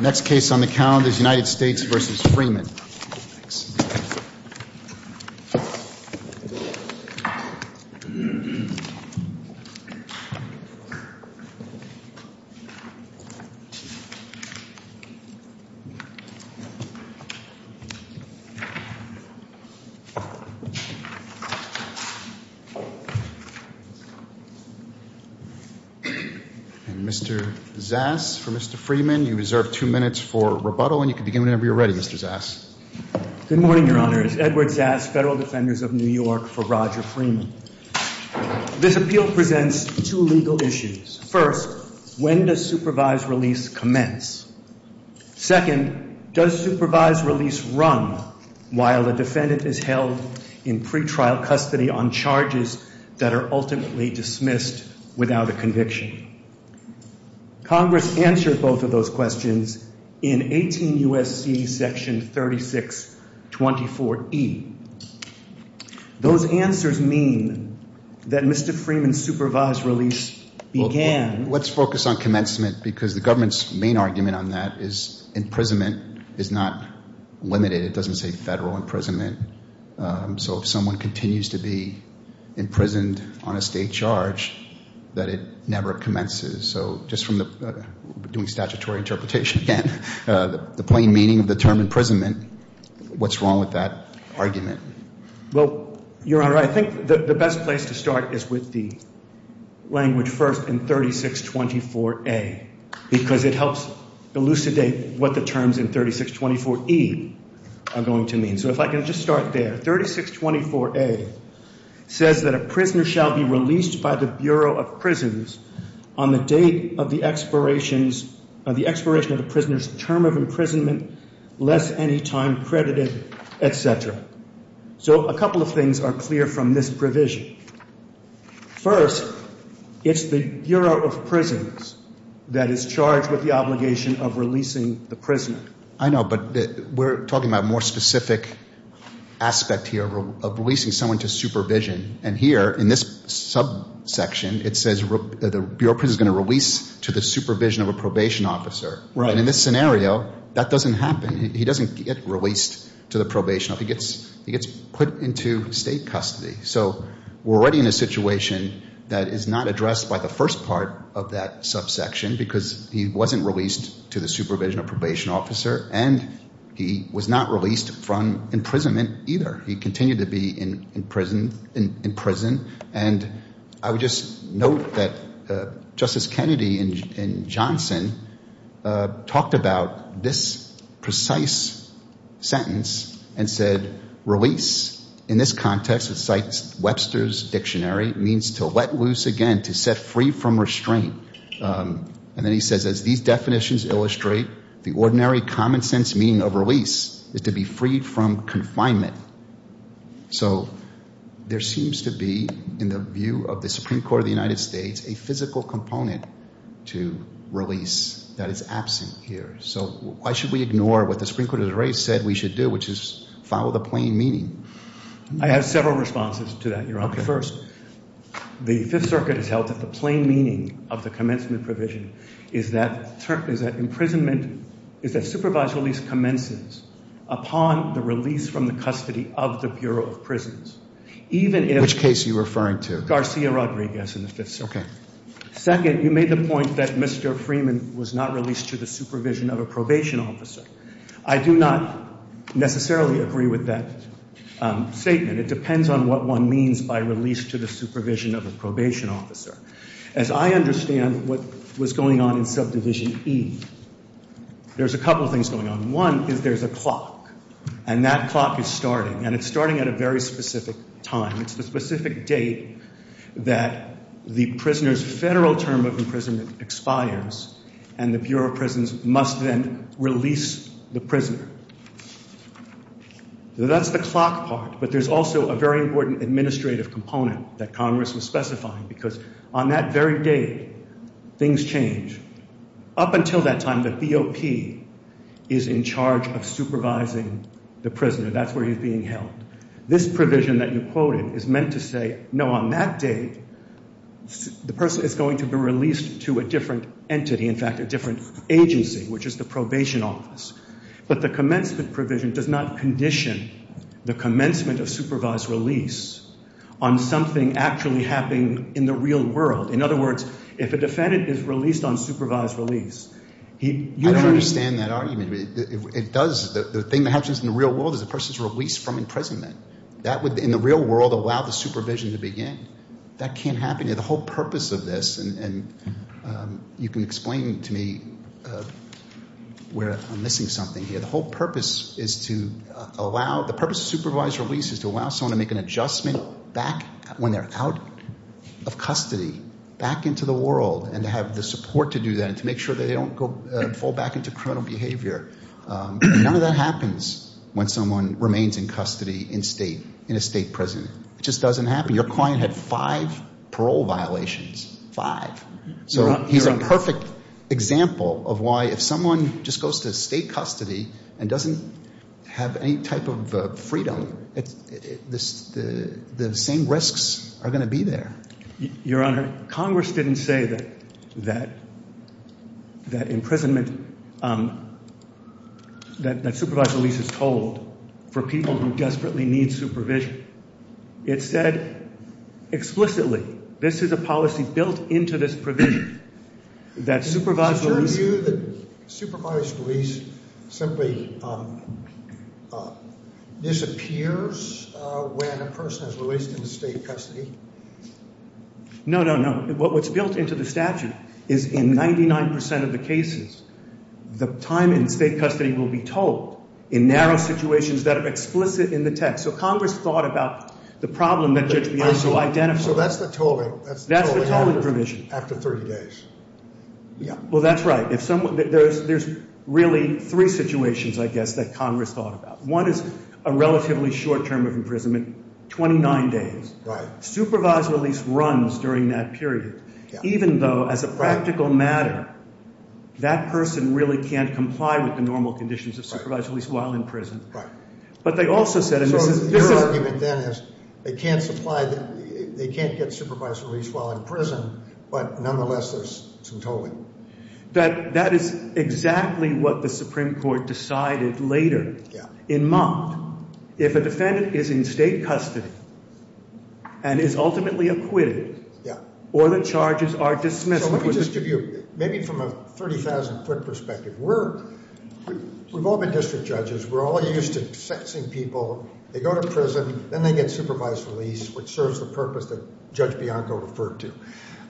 Next case on the calendar is United States v. Freeman. Mr. Zass, for Mr. Freeman, you reserve two minutes for rebuttal and you can begin whenever you're ready, Mr. Zass. Mr. Zass Good morning, Your Honor. It's Edward Zass, Federal Defenders of New York, for Roger Freeman. This appeal presents two legal issues. First, when does supervised release commence? Second, does supervised release run while the defendant is held in pretrial custody on charges that are ultimately dismissed without a conviction? Congress answered both of those questions in 18 U.S.C. section 3624E. Those answers mean that Mr. Freeman's supervised release began... Let's focus on commencement because the government's main argument on that is imprisonment is not limited. It doesn't say federal imprisonment. So if someone continues to be imprisoned on a state charge, that it never commences. So just from doing statutory interpretation again, the plain meaning of the term imprisonment, what's wrong with that argument? Well, Your Honor, I think the best place to start is with the language first in 3624A because it helps elucidate what the terms in 3624E are going to mean. So if I can just start there. 3624A says that a prisoner shall be released by the Bureau of Prisons on the date of the expiration of the prisoner's term of imprisonment less any time credited, et cetera. So a couple of things are clear from this provision. First, it's the Bureau of Prisons that is charged with the obligation of releasing the prisoner. I know, but we're talking about a more specific aspect here of releasing someone to supervision. And here in this subsection, it says the Bureau of Prisons is going to release to the supervision of a probation officer. And in this scenario, that doesn't happen. He doesn't get released to the probation. He gets put into state custody. So we're already in a situation that is not addressed by the first part of that subsection because he wasn't released to the supervision of probation officer, and he was not released from imprisonment either. He continued to be in prison. And I would just note that Justice Kennedy and Johnson talked about this precise sentence and said, in this context, it cites Webster's dictionary, means to let loose again, to set free from restraint. And then he says, as these definitions illustrate, the ordinary common sense meaning of release is to be freed from confinement. So there seems to be, in the view of the Supreme Court of the United States, a physical component to release that is absent here. So why should we ignore what the Supreme Court has already said we should do, which is follow the plain meaning? I have several responses to that, Your Honor. First, the Fifth Circuit has held that the plain meaning of the commencement provision is that imprisonment, is that supervised release commences upon the release from the custody of the Bureau of Prisons. Which case are you referring to? Garcia Rodriguez in the Fifth Circuit. Second, you made the point that Mr. Freeman was not released to the supervision of a probation officer. I do not necessarily agree with that statement. It depends on what one means by release to the supervision of a probation officer. As I understand what was going on in Subdivision E, there's a couple things going on. One is there's a clock, and that clock is starting, and it's starting at a very specific time. It's the specific date that the prisoner's federal term of imprisonment expires, and the Bureau of Prisons must then release the prisoner. So that's the clock part, but there's also a very important administrative component that Congress was specifying, because on that very date, things change. Up until that time, the BOP is in charge of supervising the prisoner. That's where he's being held. This provision that you quoted is meant to say, no, on that date, the person is going to be released to a different entity, in fact, a different agency, which is the probation office. But the commencement provision does not condition the commencement of supervised release on something actually happening in the real world. In other words, if a defendant is released on supervised release, he doesn't need to be released. I don't understand that argument. The thing that happens in the real world is the person is released from imprisonment. That would, in the real world, allow the supervision to begin. That can't happen here. The whole purpose of this, and you can explain to me where I'm missing something here. The whole purpose is to allow the purpose of supervised release is to allow someone to make an adjustment back when they're out of custody, back into the world, and to have the support to do that and to make sure that they don't fall back into criminal behavior. None of that happens when someone remains in custody in a state prison. It just doesn't happen. Your client had five parole violations, five. So he's a perfect example of why if someone just goes to state custody and doesn't have any type of freedom, the same risks are going to be there. Your Honor, Congress didn't say that imprisonment, that supervised release is told for people who desperately need supervision. It said explicitly this is a policy built into this provision that supervised release Do you view that supervised release simply disappears when a person is released into state custody? No, no, no. What's built into the statute is in 99% of the cases, the time in state custody will be told in narrow situations that are explicit in the text. So Congress thought about the problem that Judge Bianco identified. So that's the tolling. That's the tolling after 30 days. Yeah. Well, that's right. There's really three situations, I guess, that Congress thought about. One is a relatively short term of imprisonment, 29 days. Right. Supervised release runs during that period even though as a practical matter that person really can't comply with the normal conditions of supervised release while in prison. Right. But they also said So your argument then is they can't get supervised release while in prison, but nonetheless there's some tolling. That is exactly what the Supreme Court decided later. Yeah. In Mott, if a defendant is in state custody and is ultimately acquitted Yeah. or the charges are dismissed So let me just give you maybe from a 30,000 foot perspective. We've all been district judges. We're all used to sexing people. They go to prison. Then they get supervised release, which serves the purpose that Judge Bianco referred to.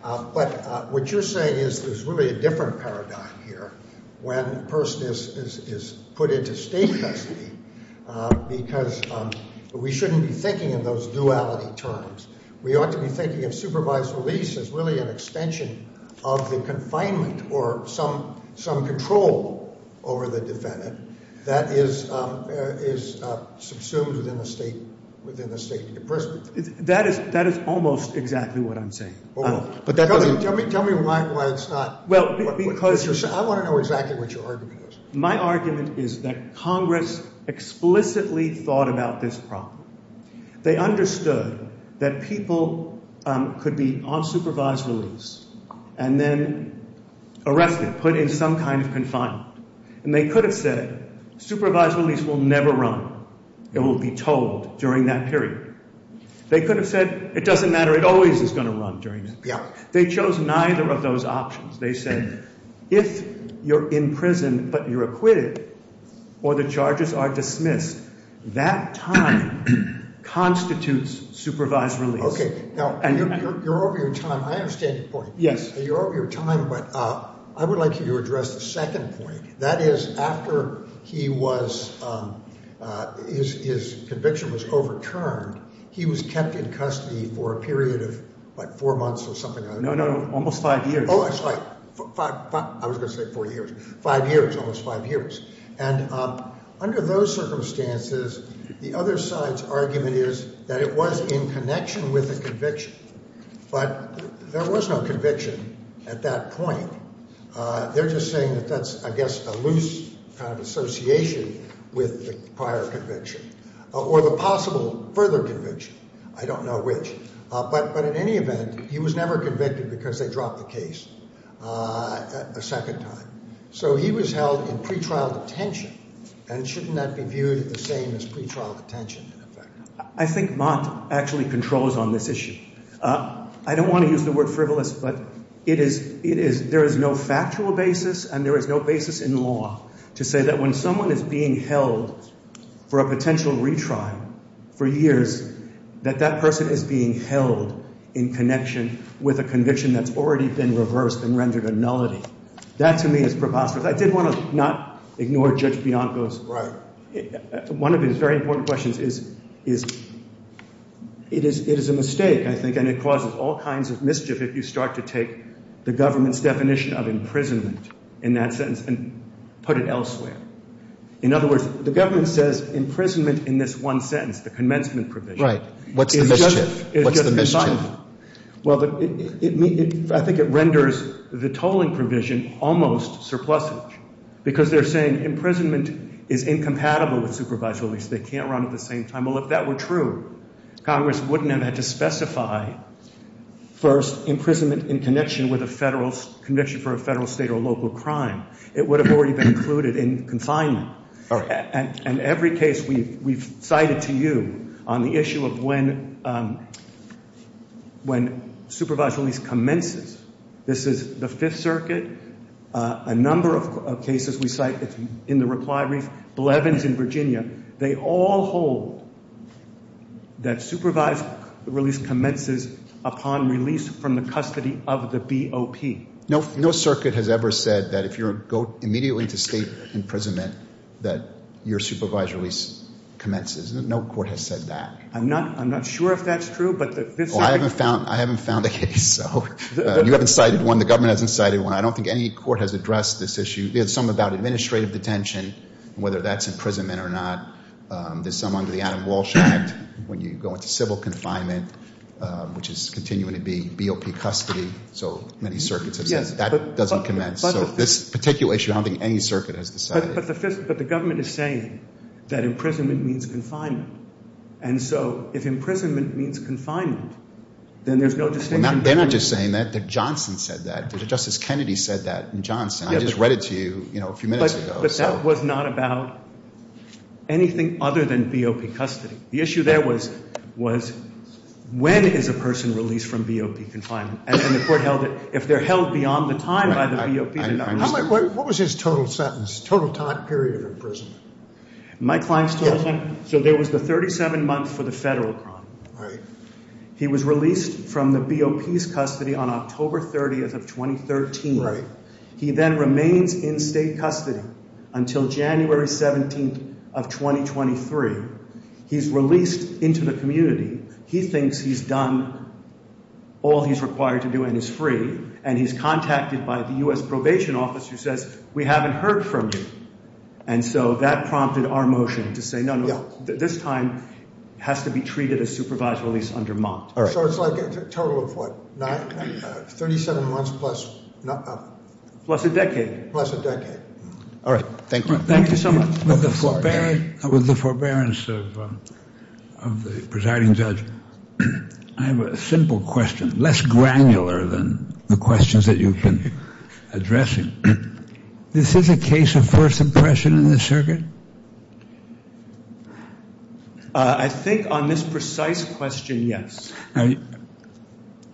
But what you're saying is there's really a different paradigm here when a person is put into state custody because we shouldn't be thinking in those duality terms. We ought to be thinking of supervised release as really an extension of the confinement or some control over the defendant that is subsumed within the state of your prison. That is almost exactly what I'm saying. Tell me why it's not. I want to know exactly what your argument is. My argument is that Congress explicitly thought about this problem. They understood that people could be on supervised release and then arrested, put in some kind of confinement. And they could have said supervised release will never run. It will be told during that period. They could have said it doesn't matter. It always is going to run during that period. They chose neither of those options. They said if you're in prison but you're acquitted or the charges are dismissed, that time constitutes supervised release. Okay. Now, you're over your time. I understand your point. Yes. You're over your time, but I would like you to address the second point. That is after he was ‑‑ his conviction was overturned, he was kept in custody for a period of, what, four months or something? No, no, almost five years. Oh, I'm sorry. I was going to say four years. Five years, almost five years. And under those circumstances, the other side's argument is that it was in connection with a conviction. But there was no conviction at that point. They're just saying that that's, I guess, a loose kind of association with the prior conviction or the possible further conviction. I don't know which. But in any event, he was never convicted because they dropped the case a second time. So he was held in pretrial detention, and shouldn't that be viewed the same as pretrial detention in effect? I think Mott actually controls on this issue. I don't want to use the word frivolous, but there is no factual basis and there is no basis in law to say that when someone is being held for a potential retrial for years, that that person is being held in connection with a conviction that's already been reversed and rendered a nullity. That, to me, is preposterous. I did want to not ignore Judge Bianco's. Right. One of his very important questions is it is a mistake, I think, and it causes all kinds of mischief if you start to take the government's definition of imprisonment in that sentence and put it elsewhere. In other words, the government says imprisonment in this one sentence, the commencement provision. Right. What's the mischief? It's just confinement. What's the mischief? Because they're saying imprisonment is incompatible with supervised release. They can't run at the same time. Well, if that were true, Congress wouldn't have had to specify, first, imprisonment in connection with a federal conviction for a federal, state, or local crime. It would have already been included in confinement. And every case we've cited to you on the issue of when supervised release commences, this is the Fifth Circuit, a number of cases we cite in the reply brief, Blevins in Virginia, they all hold that supervised release commences upon release from the custody of the BOP. No circuit has ever said that if you go immediately into state imprisonment, that your supervised release commences. No court has said that. I'm not sure if that's true. I haven't found a case. You haven't cited one. The government hasn't cited one. I don't think any court has addressed this issue. There's some about administrative detention, whether that's imprisonment or not. There's some under the Adam Walsh Act when you go into civil confinement, which is continuing to be BOP custody. So many circuits have said that doesn't commence. So this particular issue, I don't think any circuit has decided. But the government is saying that imprisonment means confinement. And so if imprisonment means confinement, then there's no distinction. They're not just saying that. Johnson said that. Justice Kennedy said that in Johnson. I just read it to you a few minutes ago. But that was not about anything other than BOP custody. The issue there was when is a person released from BOP confinement? And the court held that if they're held beyond the time by the BOP. What was his total sentence, total time period of imprisonment? My client's total sentence? So there was the 37 months for the federal crime. Right. He was released from the BOP's custody on October 30th of 2013. Right. He then remains in state custody until January 17th of 2023. He's released into the community. He thinks he's done all he's required to do and is free. And he's contacted by the U.S. Probation Office who says, we haven't heard from you. And so that prompted our motion to say, no, no, this time has to be treated as supervised release under Mott. So it's like a total of what, 37 months plus? Plus a decade. Plus a decade. All right. Thank you. Thank you so much. With the forbearance of the presiding judge, I have a simple question, less granular than the questions that you've been addressing. This is a case of first impression in the circuit? I think on this precise question, yes.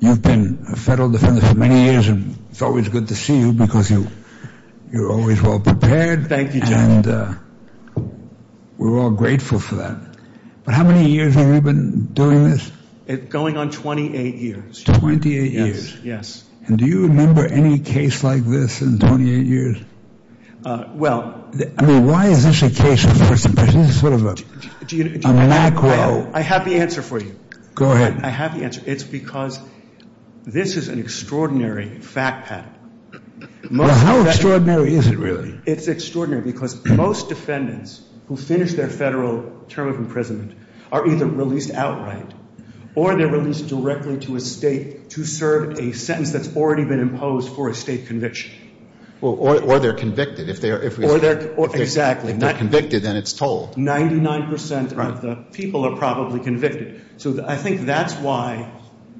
You've been a federal defender for many years, and it's always good to see you because you're always well prepared. Good, thank you, General. And we're all grateful for that. But how many years have you been doing this? Going on 28 years. 28 years. Yes. And do you remember any case like this in 28 years? Well. I mean, why is this a case of first impression? This is sort of a macro. I have the answer for you. Go ahead. I have the answer. It's because this is an extraordinary fact pattern. How extraordinary is it, really? It's extraordinary because most defendants who finish their federal term of imprisonment are either released outright or they're released directly to a state to serve a sentence that's already been imposed for a state conviction. Or they're convicted. Exactly. If they're convicted, then it's told. 99% of the people are probably convicted. So I think that's why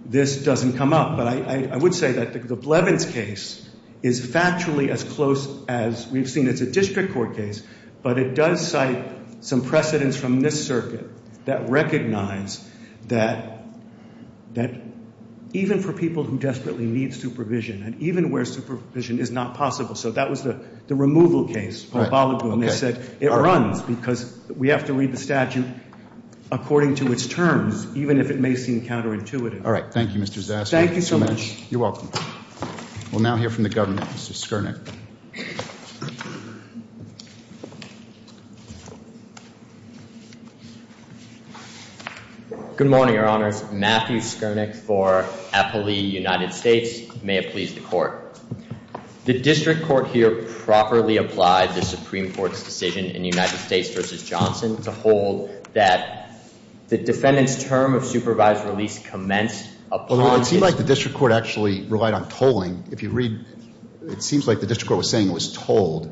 this doesn't come up. But I would say that the Blevins case is factually as close as we've seen. It's a district court case, but it does cite some precedents from this circuit that recognize that even for people who desperately need supervision and even where supervision is not possible. So that was the removal case for Balogun. They said it runs because we have to read the statute according to its terms even if it may seem counterintuitive. All right. Thank you, Mr. Zasko. Thank you so much. You're welcome. We'll now hear from the government. Mr. Skernick. Good morning, Your Honors. Matthew Skernick for Appley United States. May it please the Court. The district court here properly applied the Supreme Court's decision in United States v. Johnson to hold that the defendant's term of supervised release commenced upon his- Although it seems like the district court actually relied on tolling. If you read, it seems like the district court was saying it was tolled.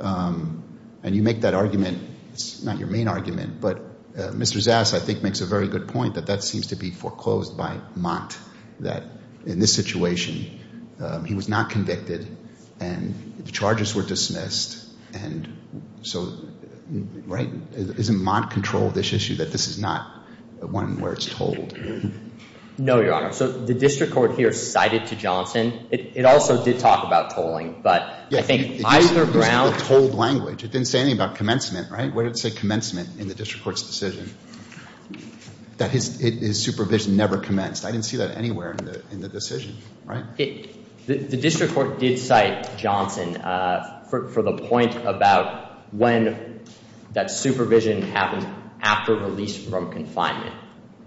And you make that argument. It's not your main argument. But Mr. Zasko, I think, makes a very good point that that seems to be foreclosed by Mont that in this situation he was not convicted and the charges were dismissed. And so, right, isn't Mont control of this issue that this is not one where it's tolled? No, Your Honor. So the district court here cited to Johnson. It also did talk about tolling. But I think either ground- It used the word tolled language. It didn't say anything about commencement, right? Where did it say commencement in the district court's decision? That his supervision never commenced. I didn't see that anywhere in the decision, right? The district court did cite Johnson for the point about when that supervision happened after release from confinement.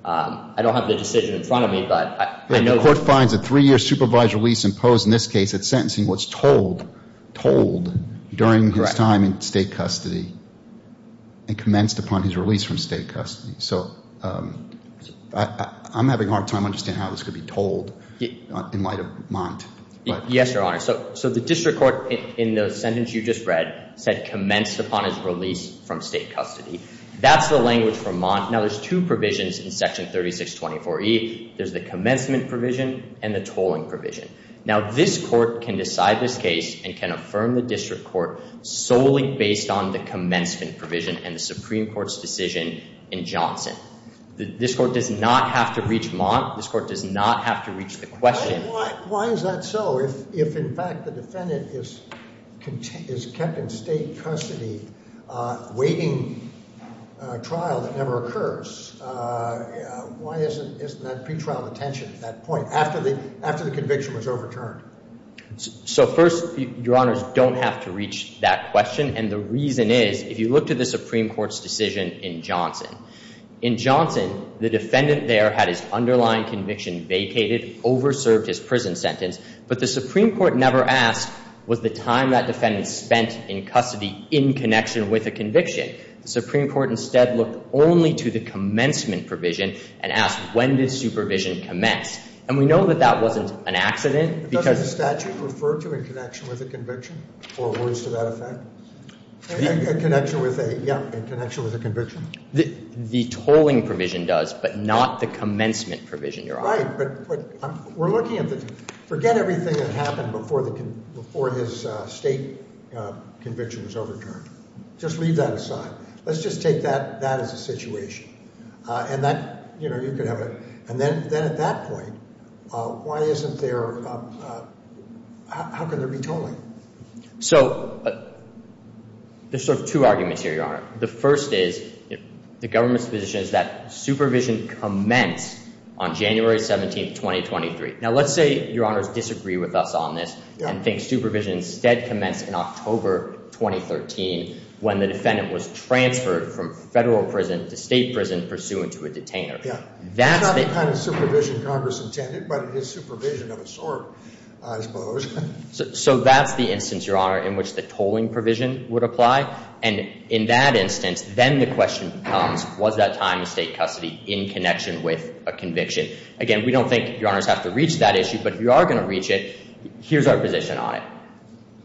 I don't have the decision in front of me, but I know- The court finds a three-year supervised release imposed in this case at sentencing was tolled during his time in state custody and commenced upon his release from state custody. So I'm having a hard time understanding how this could be tolled in light of Mont. Yes, Your Honor. So the district court, in the sentence you just read, said commenced upon his release from state custody. That's the language from Mont. Now, there's two provisions in Section 3624E. There's the commencement provision and the tolling provision. Now, this court can decide this case and can affirm the district court solely based on the commencement provision and the Supreme Court's decision in Johnson. This court does not have to reach Mont. This court does not have to reach the question. Why is that so if, in fact, the defendant is kept in state custody awaiting trial that never occurs? Why isn't that pretrial detention at that point, after the conviction was overturned? So first, Your Honors, you don't have to reach that question. And the reason is, if you look to the Supreme Court's decision in Johnson, in Johnson, the defendant there had his underlying conviction vacated, over-served his prison sentence, but the Supreme Court never asked, was the time that defendant spent in custody in connection with the conviction? The Supreme Court instead looked only to the commencement provision and asked, when does supervision commence? And we know that that wasn't an accident because does the statute refer to a connection with a conviction, or words to that effect? A connection with a, yeah, a connection with a conviction. The tolling provision does, but not the commencement provision, Your Honor. Right, but we're looking at the, forget everything that happened before his state conviction was overturned. Just leave that aside. Let's just take that as a situation. And that, you know, you could have a, And then at that point, why isn't there, how can there be tolling? So, there's sort of two arguments here, Your Honor. The first is, the government's position is that supervision commenced on January 17, 2023. Now let's say Your Honors disagree with us on this, and think supervision instead commenced in October 2013, when the defendant was transferred from federal prison to state prison, pursuant to a detainer. Yeah. It's not the kind of supervision Congress intended, but it is supervision of a sort, I suppose. So that's the instance, Your Honor, in which the tolling provision would apply. And in that instance, then the question becomes, was that time in state custody in connection with a conviction? Again, we don't think Your Honors have to reach that issue, but if you are going to reach it, here's our position on it.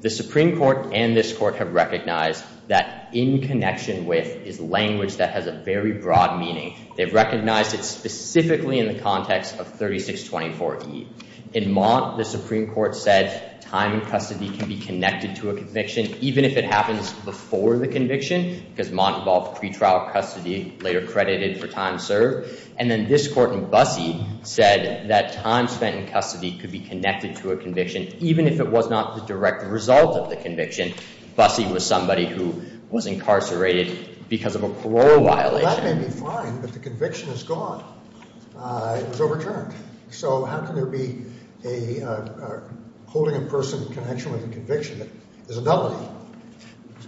The Supreme Court and this Court have recognized that in connection with is language that has a very broad meaning. They've recognized it specifically in the context of 3624E. In Mott, the Supreme Court said time in custody can be connected to a conviction, even if it happens before the conviction, because Mott involved pretrial custody, later credited for time served. And then this Court in Busse said that time spent in custody could be connected to a conviction, even if it was not the direct result of the conviction. Busse was somebody who was incarcerated because of a parole violation. Well, that may be fine, but the conviction is gone. It was overturned. So how can there be a holding a person in connection with a conviction that is a nullity?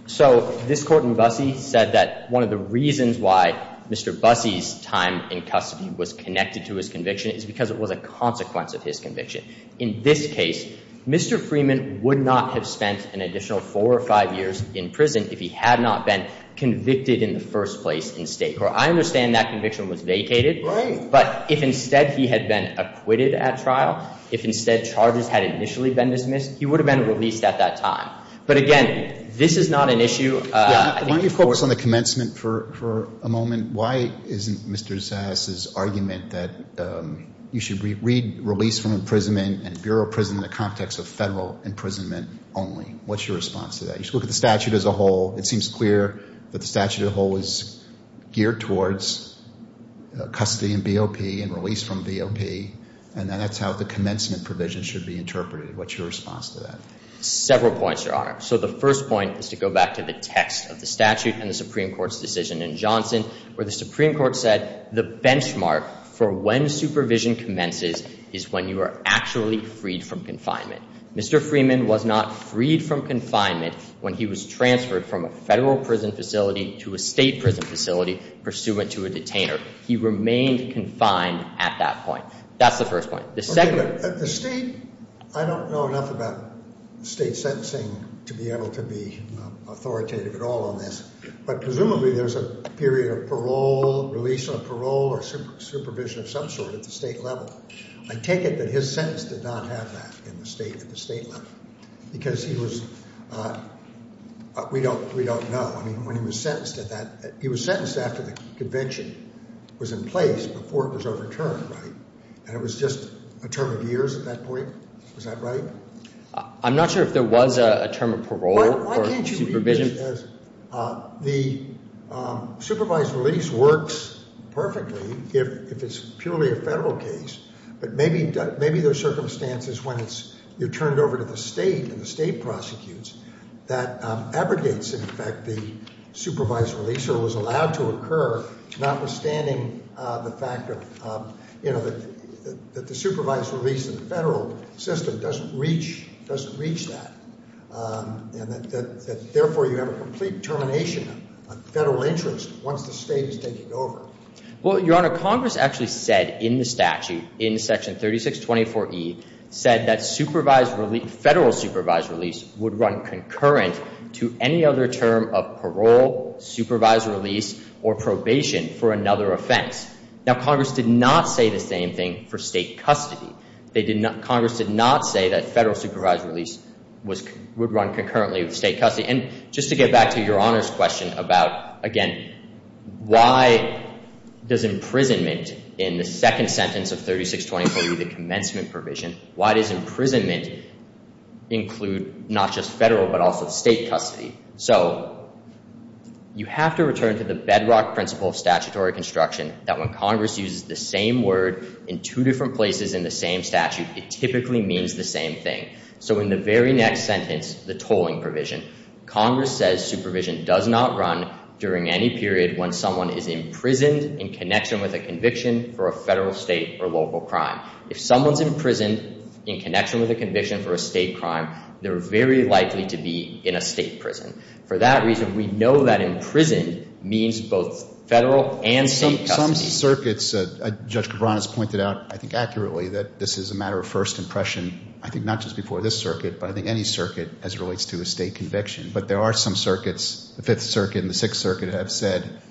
So this Court in Busse said that one of the reasons why Mr. Busse's time in custody was connected to his conviction is because it was a consequence of his conviction. In this case, Mr. Freeman would not have spent an additional four or five years in prison if he had not been convicted in the first place in state court. I understand that conviction was vacated. Right. But if instead he had been acquitted at trial, if instead charges had initially been dismissed, he would have been released at that time. But again, this is not an issue. Why don't you focus on the commencement for a moment? Why isn't Mr. Zahas' argument that you should read release from imprisonment and bureau of prison in the context of federal imprisonment only? What's your response to that? You should look at the statute as a whole. It seems clear that the statute as a whole is geared towards custody and BOP and release from BOP, and that's how the commencement provision should be interpreted. What's your response to that? Several points, Your Honor. So the first point is to go back to the text of the statute and the Supreme Court's decision in Johnson where the Supreme Court said the benchmark for when supervision commences is when you are actually freed from confinement. Mr. Freeman was not freed from confinement when he was transferred from a federal prison facility to a state prison facility pursuant to a detainer. He remained confined at that point. That's the first point. The second— The state—I don't know enough about state sentencing to be able to be authoritative at all on this, but presumably there's a period of parole, release on parole, or supervision of some sort at the state level. I take it that his sentence did not have that at the state level because he was—we don't know. I mean, when he was sentenced at that—he was sentenced after the convention was in place, before it was overturned, right? And it was just a term of years at that point? Was that right? I'm not sure if there was a term of parole or supervision. The supervised release works perfectly if it's purely a federal case, but maybe there are circumstances when you're turned over to the state and the state prosecutes that abrogates, in effect, the supervised release or was allowed to occur, notwithstanding the fact that the supervised release in the federal system doesn't reach that and that, therefore, you have a complete termination of federal interest once the state is taken over. Well, Your Honor, Congress actually said in the statute, in Section 3624E, said that federal supervised release would run concurrent to any other term of parole, supervised release, or probation for another offense. Now, Congress did not say the same thing for state custody. Congress did not say that federal supervised release would run concurrently with state custody. And just to get back to Your Honor's question about, again, why does imprisonment in the second sentence of 3624E, the commencement provision, why does imprisonment include not just federal but also state custody? So you have to return to the bedrock principle of statutory construction that when Congress uses the same word in two different places in the same statute, it typically means the same thing. So in the very next sentence, the tolling provision, Congress says supervision does not run during any period when someone is imprisoned in connection with a conviction for a federal, state, or local crime. If someone's imprisoned in connection with a conviction for a state crime, they're very likely to be in a state prison. For that reason, we know that imprisoned means both federal and state custody. Some circuits, Judge Cabran has pointed out, I think accurately, that this is a matter of first impression, I think not just before this circuit, but I think any circuit as it relates to a state conviction. But there are some circuits, the Fifth Circuit and the Sixth Circuit, have said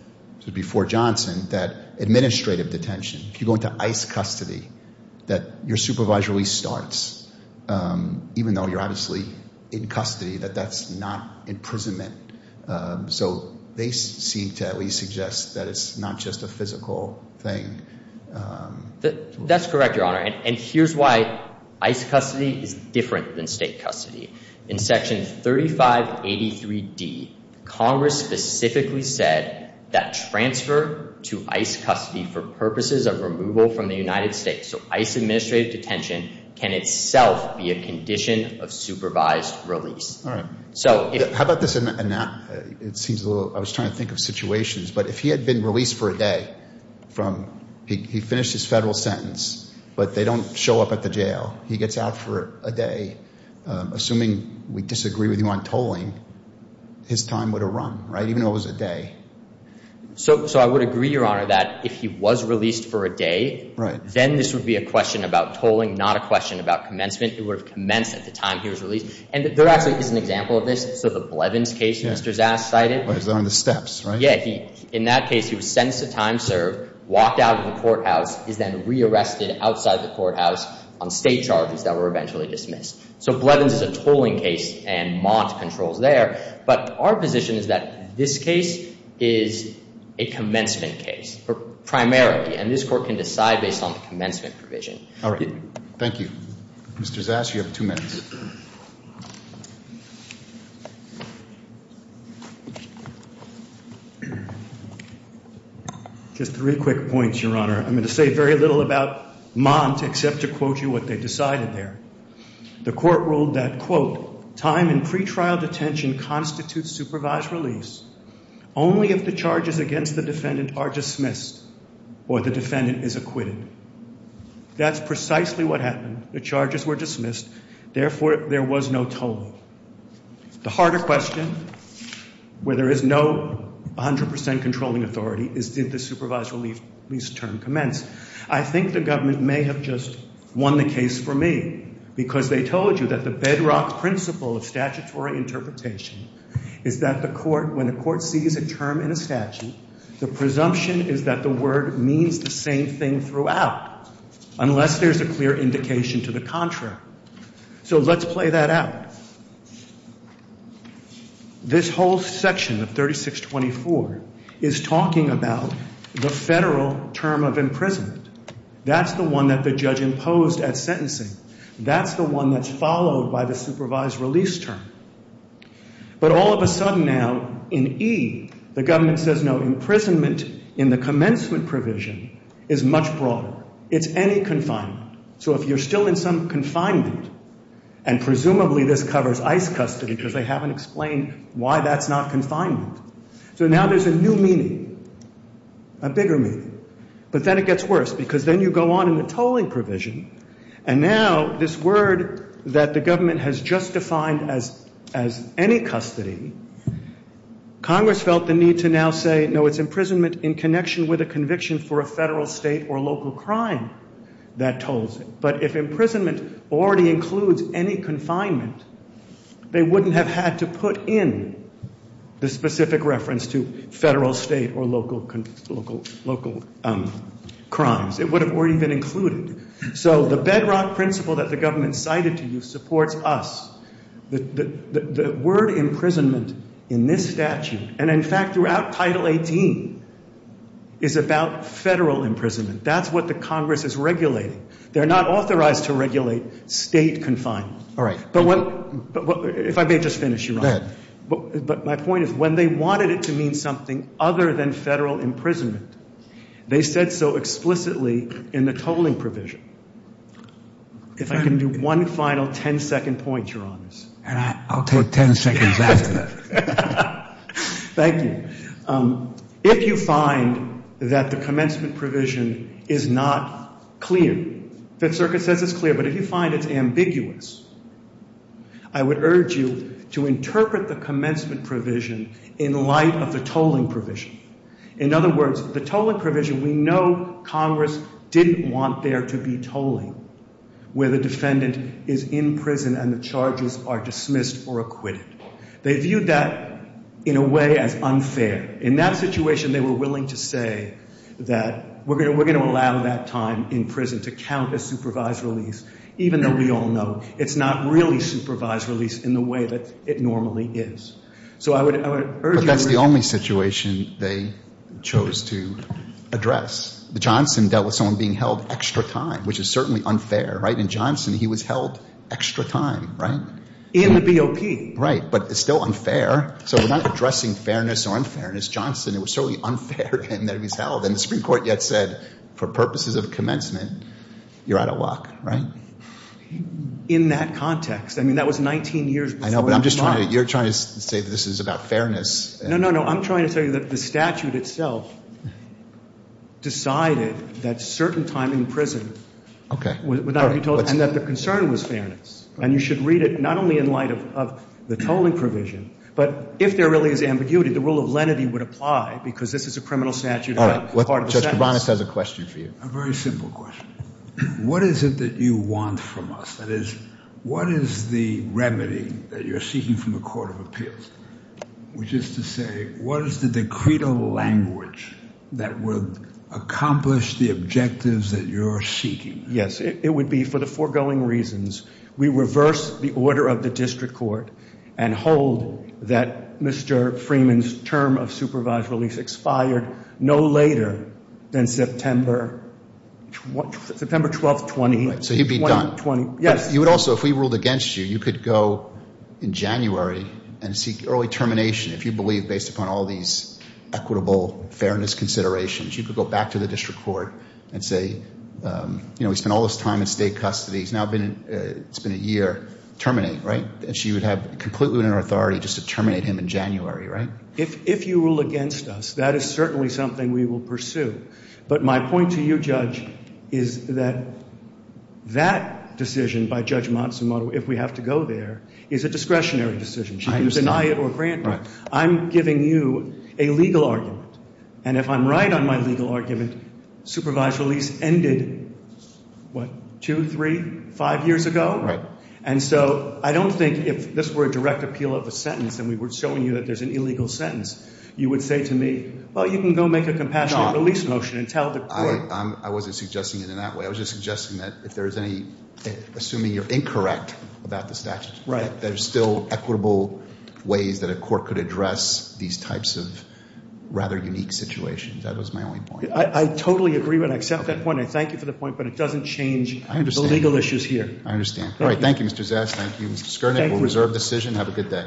before Johnson that administrative detention, if you go into ICE custody, that your supervised release starts, even though you're obviously in custody, that that's not imprisonment. So they seem to at least suggest that it's not just a physical thing. That's correct, Your Honor. And here's why ICE custody is different than state custody. In Section 3583D, Congress specifically said that transfer to ICE custody for purposes of removal from the United States, so ICE administrative detention can itself be a condition of supervised release. All right. How about this? I was trying to think of situations. But if he had been released for a day, he finished his federal sentence, but they don't show up at the jail. He gets out for a day, assuming we disagree with him on tolling, his time would have run, right, even though it was a day. So I would agree, Your Honor, that if he was released for a day, then this would be a question about tolling, not a question about commencement. It would have commenced at the time he was released. And there actually is an example of this. So the Blevins case Mr. Zass cited. It was on the steps, right? Yeah. In that case, he was sentenced to time served, walked out of the courthouse, is then rearrested outside the courthouse on state charges that were eventually dismissed. So Blevins is a tolling case, and Mott controls there. But our position is that this case is a commencement case, primarily, and this court can decide based on the commencement provision. All right. Thank you. Mr. Zass, you have two minutes. Just three quick points, Your Honor. I'm going to say very little about Mott except to quote you what they decided there. The court ruled that, quote, time in pretrial detention constitutes supervised release only if the charges against the defendant are dismissed or the defendant is acquitted. That's precisely what happened. The charges were dismissed. Therefore, there was no tolling. The harder question, where there is no 100% controlling authority, is did the supervised release term commence? I think the government may have just won the case for me because they told you that the bedrock principle of statutory interpretation is that when a court sees a term in a statute, the presumption is that the word means the same thing throughout unless there's a clear indication to the contrary. So let's play that out. This whole section of 3624 is talking about the federal term of imprisonment. That's the one that the judge imposed at sentencing. That's the one that's followed by the supervised release term. But all of a sudden now, in E, the government says, no, imprisonment in the commencement provision is much broader. It's any confinement. So if you're still in some confinement, and presumably this covers ICE custody because they haven't explained why that's not confinement. So now there's a new meaning, a bigger meaning. But then it gets worse because then you go on in the tolling provision, and now this word that the government has just defined as any custody, Congress felt the need to now say, no, it's imprisonment in connection with a conviction for a federal, state, or local crime that tolls it. But if imprisonment already includes any confinement, they wouldn't have had to put in the specific reference to federal, state, or local crimes. It would have already been included. So the bedrock principle that the government cited to you supports us. The word imprisonment in this statute, and in fact throughout Title 18, is about federal imprisonment. That's what the Congress is regulating. They're not authorized to regulate state confinement. All right. If I may just finish, Your Honor. Go ahead. But my point is when they wanted it to mean something other than federal imprisonment, they said so explicitly in the tolling provision. If I can do one final ten-second point, Your Honors. I'll take ten seconds after that. Thank you. If you find that the commencement provision is not clear, Fifth Circuit says it's clear, but if you find it's ambiguous, I would urge you to interpret the commencement provision in light of the tolling provision. In other words, the tolling provision, we know Congress didn't want there to be tolling where the defendant is in prison and the charges are dismissed or acquitted. They viewed that in a way as unfair. In that situation, they were willing to say that we're going to allow that time in prison to count as supervised release, even though we all know it's not really supervised release in the way that it normally is. But that's the only situation they chose to address. Johnson dealt with someone being held extra time, which is certainly unfair, right? In Johnson, he was held extra time, right? In the BOP. Right. But it's still unfair. So we're not addressing fairness or unfairness. Johnson, it was certainly unfair of him that he was held. And the Supreme Court yet said for purposes of commencement, you're out of luck, right? In that context. I mean, that was 19 years before. I know, but you're trying to say this is about fairness. No, no, no. I'm trying to tell you that the statute itself decided that certain time in prison would not be tolled and that the concern was fairness. And you should read it not only in light of the tolling provision, but if there really is ambiguity, the rule of lenity would apply because this is a criminal statute and not part of the sentence. All right. Judge Kabanis has a question for you. A very simple question. What is it that you want from us? That is, what is the remedy that you're seeking from the Court of Appeals? Which is to say, what is the decretal language that would accomplish the objectives that you're seeking? Yes. It would be for the foregoing reasons. We reverse the order of the district court and hold that Mr. Freeman's term of supervised release expired no later than September 12, 2020. So he'd be done. Yes. You would also, if we ruled against you, you could go in January and seek early termination if you believe based upon all these equitable fairness considerations. You could go back to the district court and say, you know, we spent all this time in state custody. It's now been a year. Terminate, right? And she would have completely within her authority just to terminate him in January, right? If you rule against us, that is certainly something we will pursue. But my point to you, Judge, is that that decision by Judge Matsumoto, if we have to go there, is a discretionary decision. She can deny it or grant it. I'm giving you a legal argument. And if I'm right on my legal argument, supervised release ended, what, two, three, five years ago? Right. And so I don't think if this were a direct appeal of a sentence and we were showing you that there's an illegal sentence, you would say to me, well, you can go make a compassionate release motion and tell the court. I wasn't suggesting it in that way. I was just suggesting that if there's any, assuming you're incorrect about the statute, that there's still equitable ways that a court could address these types of rather unique situations. That was my only point. I totally agree with and accept that point. I thank you for the point, but it doesn't change the legal issues here. I understand. All right. Thank you, Mr. Zast. Thank you, Mr. Skernick. We'll reserve decision. Have a good day. Thank you.